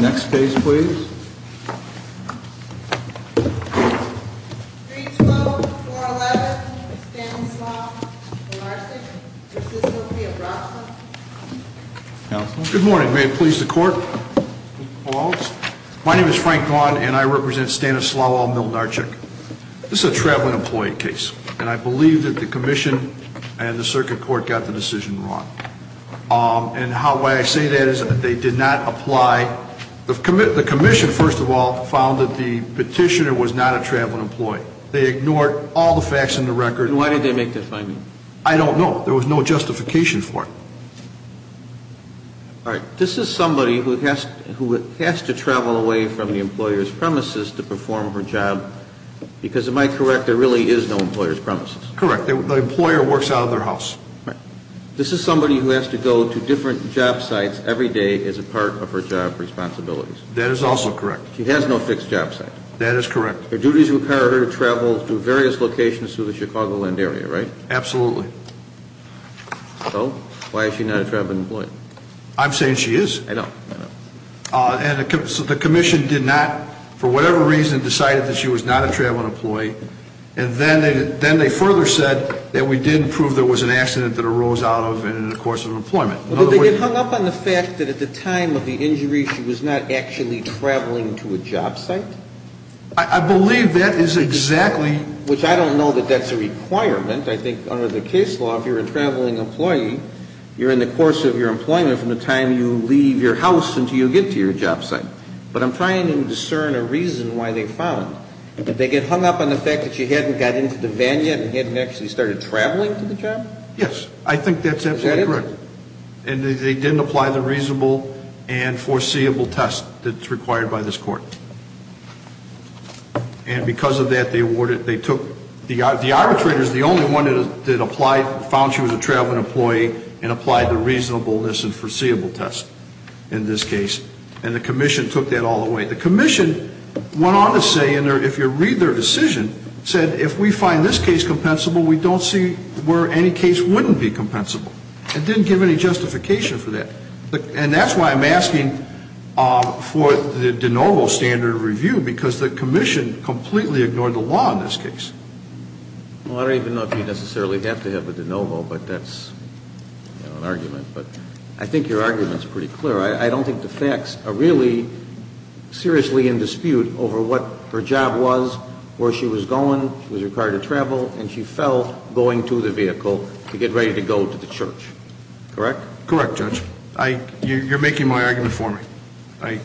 Next case please. 312-411 Stanislav Milnarczyk versus Sofia Brasov. Good morning, may it please the court. My name is Frank Vaughn and I represent Stanislav Milnarczyk. This is a traveling employee case and I believe that the commission and the circuit court got the decision wrong. And why I say that is that they did not apply, the commission first of all found that the petitioner was not a traveling employee. They ignored all the facts in the record. And why did they make that finding? I don't know, there was no justification for it. All right, this is somebody who has to travel away from the employer's premises to perform her job because, am I correct, there really is no employer's premises? Correct, the employer works out of their house. This is somebody who has to go to different job sites every day as a part of her job responsibilities. That is also correct. She has no fixed job site. That is correct. Her duties require her to travel to various locations through the Chicagoland area, right? Absolutely. So, why is she not a traveling employee? I'm saying she is. I know. And so the commission did not, for whatever reason, decided that she was not a traveling employee. And then they further said that we did prove there was an accident that arose out of it in the course of employment. Well, did they get hung up on the fact that at the time of the injury she was not actually traveling to a job site? I believe that is exactly. Which I don't know that that's a requirement. I think under the case law, if you're a traveling employee, you're in the course of your employment from the time you leave your house until you get to your job site. But I'm trying to discern a reason why they found. Did they get hung up on the fact that she hadn't got into the van yet and hadn't actually started traveling to the job? Yes. I think that's absolutely correct. And they didn't apply the reasonable and foreseeable test that's required by this court. And because of that, they awarded, they took, the arbitrator is the only one that applied, found she was a traveling employee and applied the reasonableness and foreseeable test in this case. And the commission took that all the way. The commission went on to say, and if you read their decision, said if we find this case compensable, we don't see where any case wouldn't be compensable. It didn't give any justification for that. And that's why I'm asking for the de novo standard of review, because the commission completely ignored the law in this case. Well, I don't even know if you necessarily have to have a de novo, but that's an argument. But I think your argument is pretty clear. I don't think the facts are really seriously in dispute over what her job was, where she was going, was required to travel, and she felt going to the vehicle to get ready to go to the church. Correct? Correct, Judge. You're making my argument for me,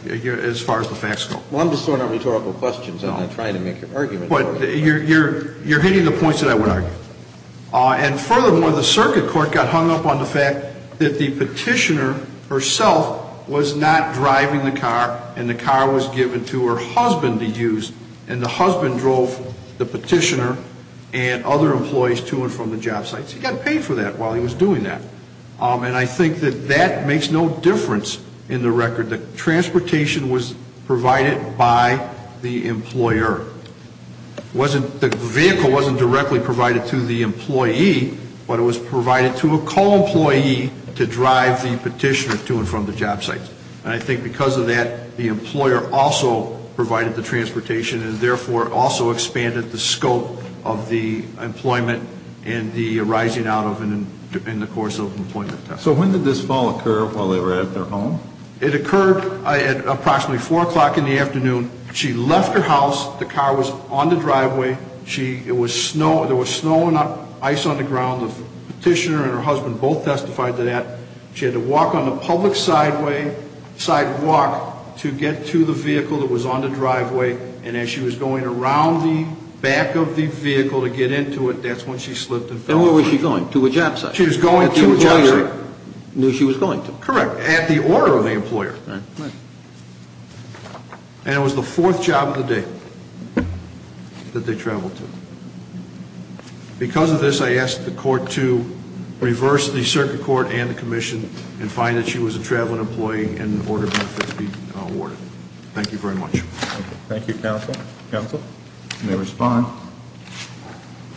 as far as the facts go. Well, I'm just throwing out rhetorical questions. I'm not trying to make your argument. But you're hitting the points that I would argue. And furthermore, the circuit court got hung up on the fact that the petitioner herself was not driving the car, and the car was given to her husband to use. And the husband drove the petitioner and other employees to and from the job site. So he got paid for that while he was doing that. And I think that that makes no difference in the record. The transportation was provided by the employer. The vehicle wasn't directly provided to the employee, but it was provided to a co-employee to drive the petitioner to and from the job site. And I think because of that, the employer also provided the transportation and therefore also expanded the scope of the employment and the rising out of in the course of employment. So when did this fall occur while they were at their home? It occurred at approximately 4 o'clock in the afternoon. She left her house. The car was on the driveway. There was snow and ice on the ground. The petitioner and her husband both testified to that. She had to walk on the public sidewalk to get to the vehicle that was on the driveway. And as she was going around the back of the vehicle to get into it, that's when she slipped and fell. And where was she going? To a job site. She was going to a job site. Correct. At the order of the employer. And it was the fourth job of the day that they traveled to. Because of this, I ask the court to reverse the circuit court and the commission and find that she was a traveling employee in order for it to be awarded. Thank you very much. Thank you, counsel. Counsel? You may respond.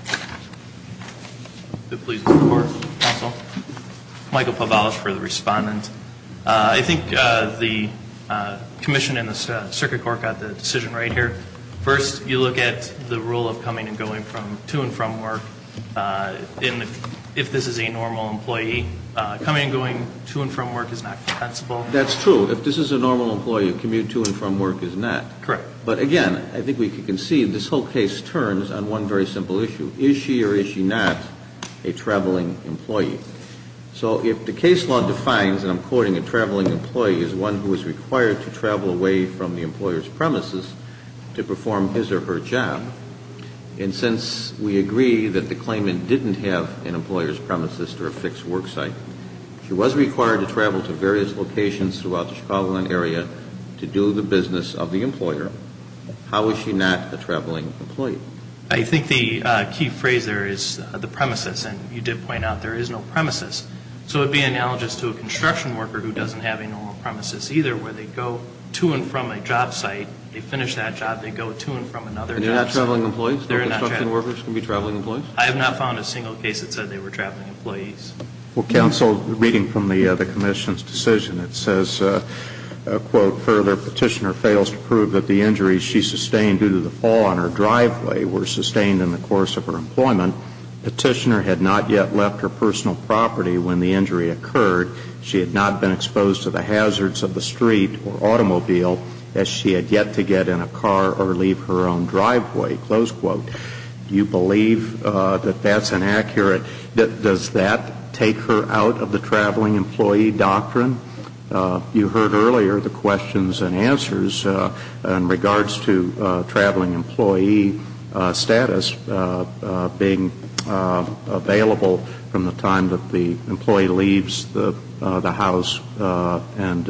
If it pleases the court, counsel. Michael Pavalos for the respondent. I think the commission and the circuit court got the decision right here. First, you look at the rule of coming and going from to and from work. And if this is a normal employee, coming and going to and from work is not compensable. That's true. If this is a normal employee, a commute to and from work is not. Correct. But again, I think we can see this whole case turns on one very simple issue. Is she or is she not a traveling employee? So if the case law defines, and I'm quoting, a traveling employee as one who is required to travel away from the employer's premises to perform his or her job, and since we agree that the claimant didn't have an employer's premises or a fixed work site, she was required to travel to various locations throughout the Chicagoland area to do the business of the employer. How is she not a traveling employee? I think the key phrase there is the premises. And you did point out there is no premises. So it would be analogous to a construction worker who doesn't have a normal premises either, where they go to and from a job site, they finish that job, they go to and from another job site. And they're not traveling employees? They're not traveling. Construction workers can be traveling employees? I have not found a single case that said they were traveling employees. Well, counsel, reading from the commission's decision, it says, quote, further petitioner fails to prove that the injuries she sustained due to the fall on her driveway were sustained in the course of her employment. Petitioner had not yet left her personal property when the injury occurred. She had not been exposed to the hazards of the street or automobile as she had yet to get in a car or leave her own driveway, close quote. Do you believe that that's inaccurate? Does that take her out of the traveling employee doctrine? You heard earlier the questions and answers in regards to traveling employee status being available from the time that the employee leaves the house and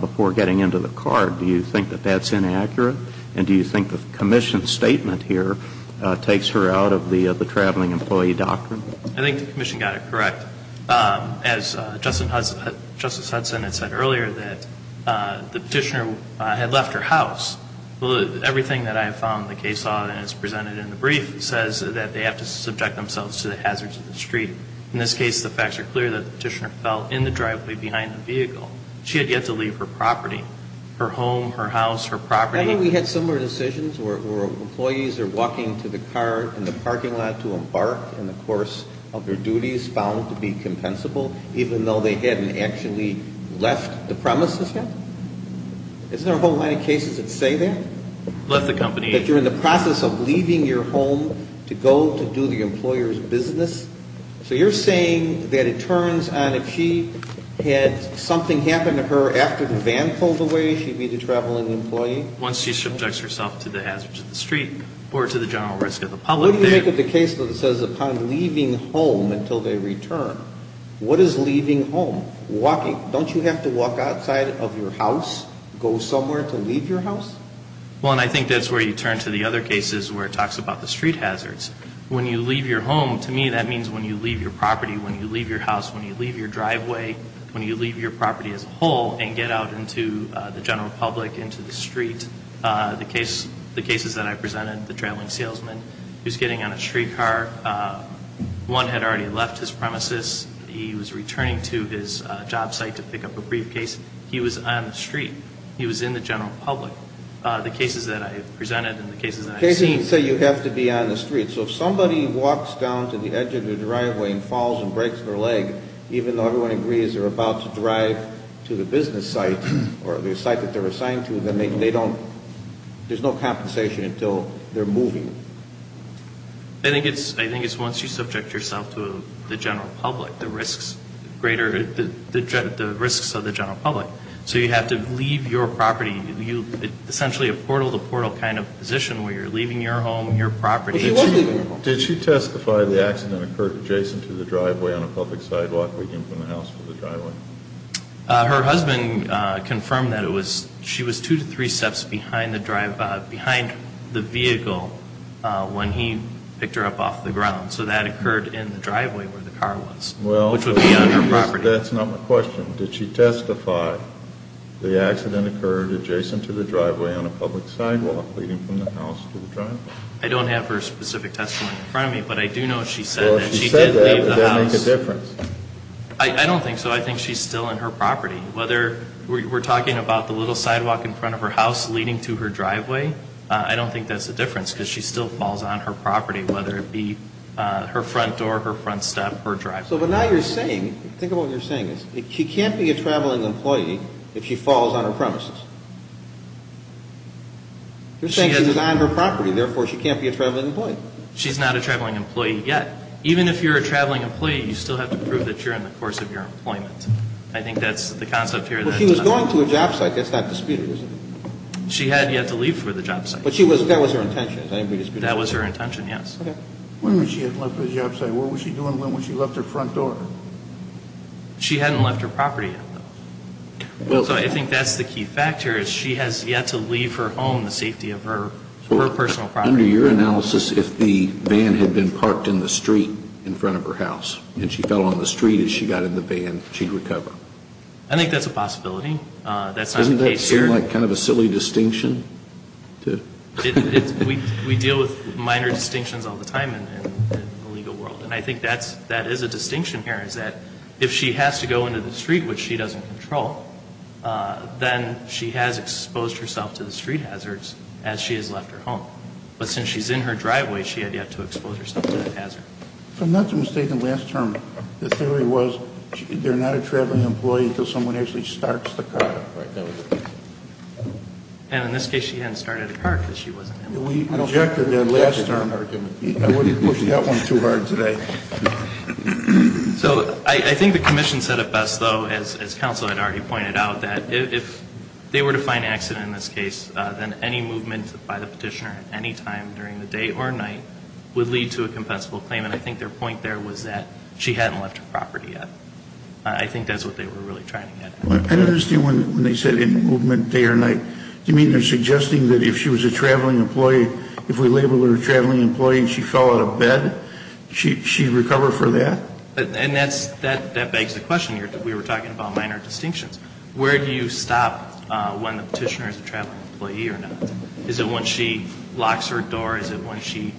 before getting into the car. Do you think that that's inaccurate? And do you think the commission's statement here takes her out of the traveling employee doctrine? I think the commission got it correct. As Justice Hudson had said earlier that the petitioner had left her house. Well, everything that I have found in the case law that is presented in the brief says that they have to subject themselves to the hazards of the street. In this case, the facts are clear that the petitioner fell in the driveway behind the vehicle. She had yet to leave her property, her home, her house, her property. I think we had similar decisions where employees are walking to the car in the parking lot to embark in the course of their duties found to be compensable, even though they hadn't actually left the premises yet. Isn't there a whole lot of cases that say that? Left the company. That you're in the process of leaving your home to go to do the employer's business. So you're saying that it turns on if she had something happen to her after the van pulled away, she'd be the traveling employee? Once she subjects herself to the hazards of the street or to the general risk of the public. What do you make of the case that says upon leaving home until they return? What is leaving home? Walking. Don't you have to walk outside of your house? Go somewhere to leave your house? Well, and I think that's where you turn to the other cases where it talks about the street hazards. When you leave your home, to me that means when you leave your property, when you leave your house, when you leave your driveway, when you leave your property as a whole and get out into the general public, into the street. The cases that I presented, the traveling salesman who's getting on a street car, one had already left his premises. He was returning to his job site to pick up a briefcase. He was on the street. He was in the general public. The cases that I presented and the cases that I've seen. Cases that say you have to be on the street. So if somebody walks down to the edge of the driveway and falls and breaks their leg, even though everyone agrees they're about to drive to the business site or the site that they're assigned to, then they don't, there's no compensation until they're moving. I think it's once you subject yourself to the general public, the risks greater, the risks of the general public. So you have to leave your property, essentially a portal-to-portal kind of position where you're leaving your home, your property. But she was leaving her home. Did she testify the accident occurred adjacent to the driveway on a public sidewalk, or you came from the house to the driveway? Her husband confirmed that it was, she was two to three steps behind the vehicle when he picked her up off the ground. So that occurred in the driveway where the car was, which would be on her property. That's not my question. Did she testify the accident occurred adjacent to the driveway on a public sidewalk, leading from the house to the driveway? I don't have her specific testimony in front of me, but I do know she said that she did leave the house. Well, if she said that, would that make a difference? I don't think so. I think she's still on her property. Whether we're talking about the little sidewalk in front of her house leading to her driveway, I don't think that's the difference, because she still falls on her property, whether it be her front door, her front step, her driveway. So, but now you're saying, think about what you're saying. She can't be a traveling employee if she falls on her premises. You're saying she's on her property, therefore she can't be a traveling employee. She's not a traveling employee yet. Even if you're a traveling employee, you still have to prove that you're in the course of your employment. I think that's the concept here. Well, she was going to a job site. That's not disputed, is it? She had yet to leave for the job site. But she was, that was her intention, is that to be disputed? That was her intention, yes. Okay. When was she left for the job site? What was she doing when she left her front door? She hadn't left her property yet, though. So I think that's the key factor, is she has yet to leave her home, the safety of her personal property. Under your analysis, if the van had been parked in the street in front of her house, and she fell on the street as she got in the van, she'd recover. I think that's a possibility. That's not a case here. Doesn't that seem like kind of a silly distinction? We deal with minor distinctions all the time in the legal world. And I think that is a distinction here, is that if she has to go into the street, which she doesn't control, then she has exposed herself to the street hazards as she has left her home. But since she's in her driveway, she had yet to expose herself to that hazard. If I'm not mistaken, last term, the theory was they're not a traveling employee until someone actually starts the car. And in this case, she hadn't started a car because she wasn't able to. We rejected that last term argument. I wouldn't push that one too hard today. So I think the commission said it best, though, as counsel had already pointed out, that if they were to find an accident in this case, then any movement by the petitioner at any time during the day or night would lead to a compensable claim, and I think their point there was that she hadn't left her property yet. I think that's what they were really trying to get at. I don't understand when they said in movement, day or night. Do you mean they're suggesting that if she was a traveling employee, if we label her a traveling employee and she fell out of bed, she'd recover for that? And that begs the question here. We were talking about minor distinctions. Where do you stop when the petitioner is a traveling employee or not? Is it when she locks her door? Is it when she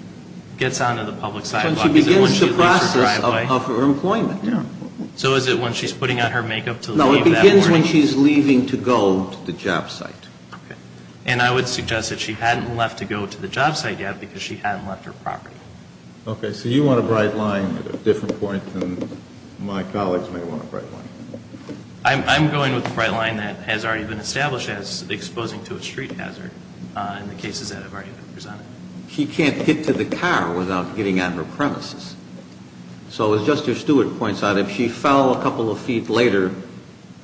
gets onto the public sidewalk? Is it when she leaves her driveway? When she begins the process of her employment, yeah. So is it when she's putting on her makeup to leave that morning? No, it begins when she's leaving to go to the job site. Okay. And I would suggest that she hadn't left to go to the job site yet because she hadn't left her property. Okay, so you want a bright line at a different point than my colleagues may want a bright line. I'm going with a bright line that has already been established as exposing to a street hazard in the cases that have already been presented. She can't get to the car without getting on her premises. So as Justice Stewart points out, if she fell a couple of feet later,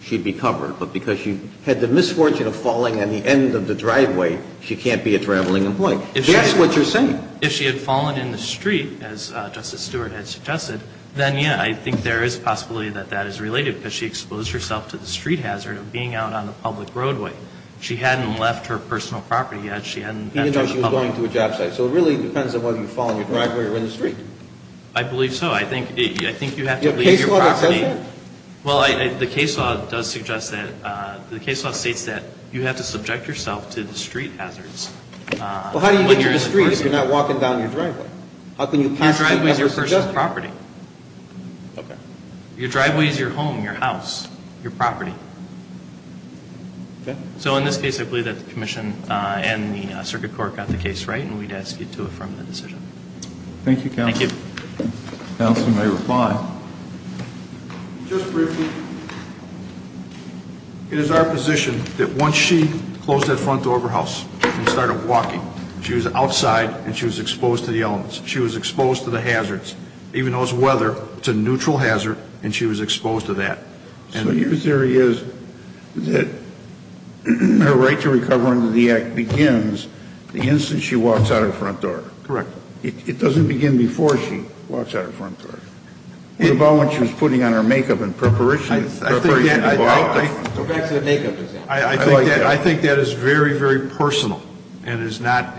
she'd be covered. But because she had the misfortune of falling on the end of the driveway, she can't be a traveling employee. If that's what you're saying. If she had fallen in the street, as Justice Stewart had suggested, then yeah, I think there is a possibility that that is related because she exposed herself to the street hazard of being out on the public roadway. She hadn't left her personal property yet. She hadn't gone to the public. Even though she was going to a job site. So it really depends on whether you fall on your driveway or in the street. I believe so. I think you have to believe your property. Your case law does that? Well, the case law does suggest that, the case law states that you have to subject yourself to the street hazards. Well, how do you get to the street if you're not walking down your driveway? How can you pass your personal property? Okay. Your driveway is your home, your house, your property. Okay. So in this case, I believe that the commission and the circuit court got the case right, and we'd ask you to affirm the decision. Thank you, counsel. Thank you. Counsel may reply. Just briefly, it is our position that once she closed that front door of her house and started walking, she was outside and she was exposed to the elements. She was exposed to the hazards. Even though it's weather, it's a neutral hazard, and she was exposed to that. So your theory is that her right to recover under the act begins the instant she walks out of the front door? Correct. It doesn't begin before she walks out of the front door. It was about when she was putting on her makeup in preparation to walk. Go back to the makeup example. I think that is very, very personal, and it is not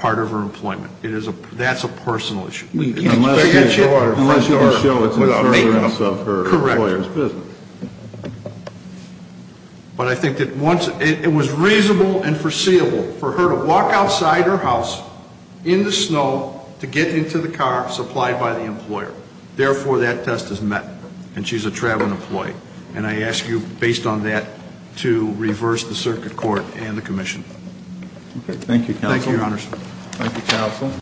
part of her employment. That's a personal issue. Unless you can show it's in service of her employer's business. Correct. But I think that once, it was reasonable and foreseeable for her to walk outside her house in the snow to get into the car supplied by the employer. Therefore, that test is met, and she's a traveling employee. And I ask you, based on that, to reverse the circuit court and the commission. Okay, thank you, counsel. Thank you, your honors. Thank you, counsel.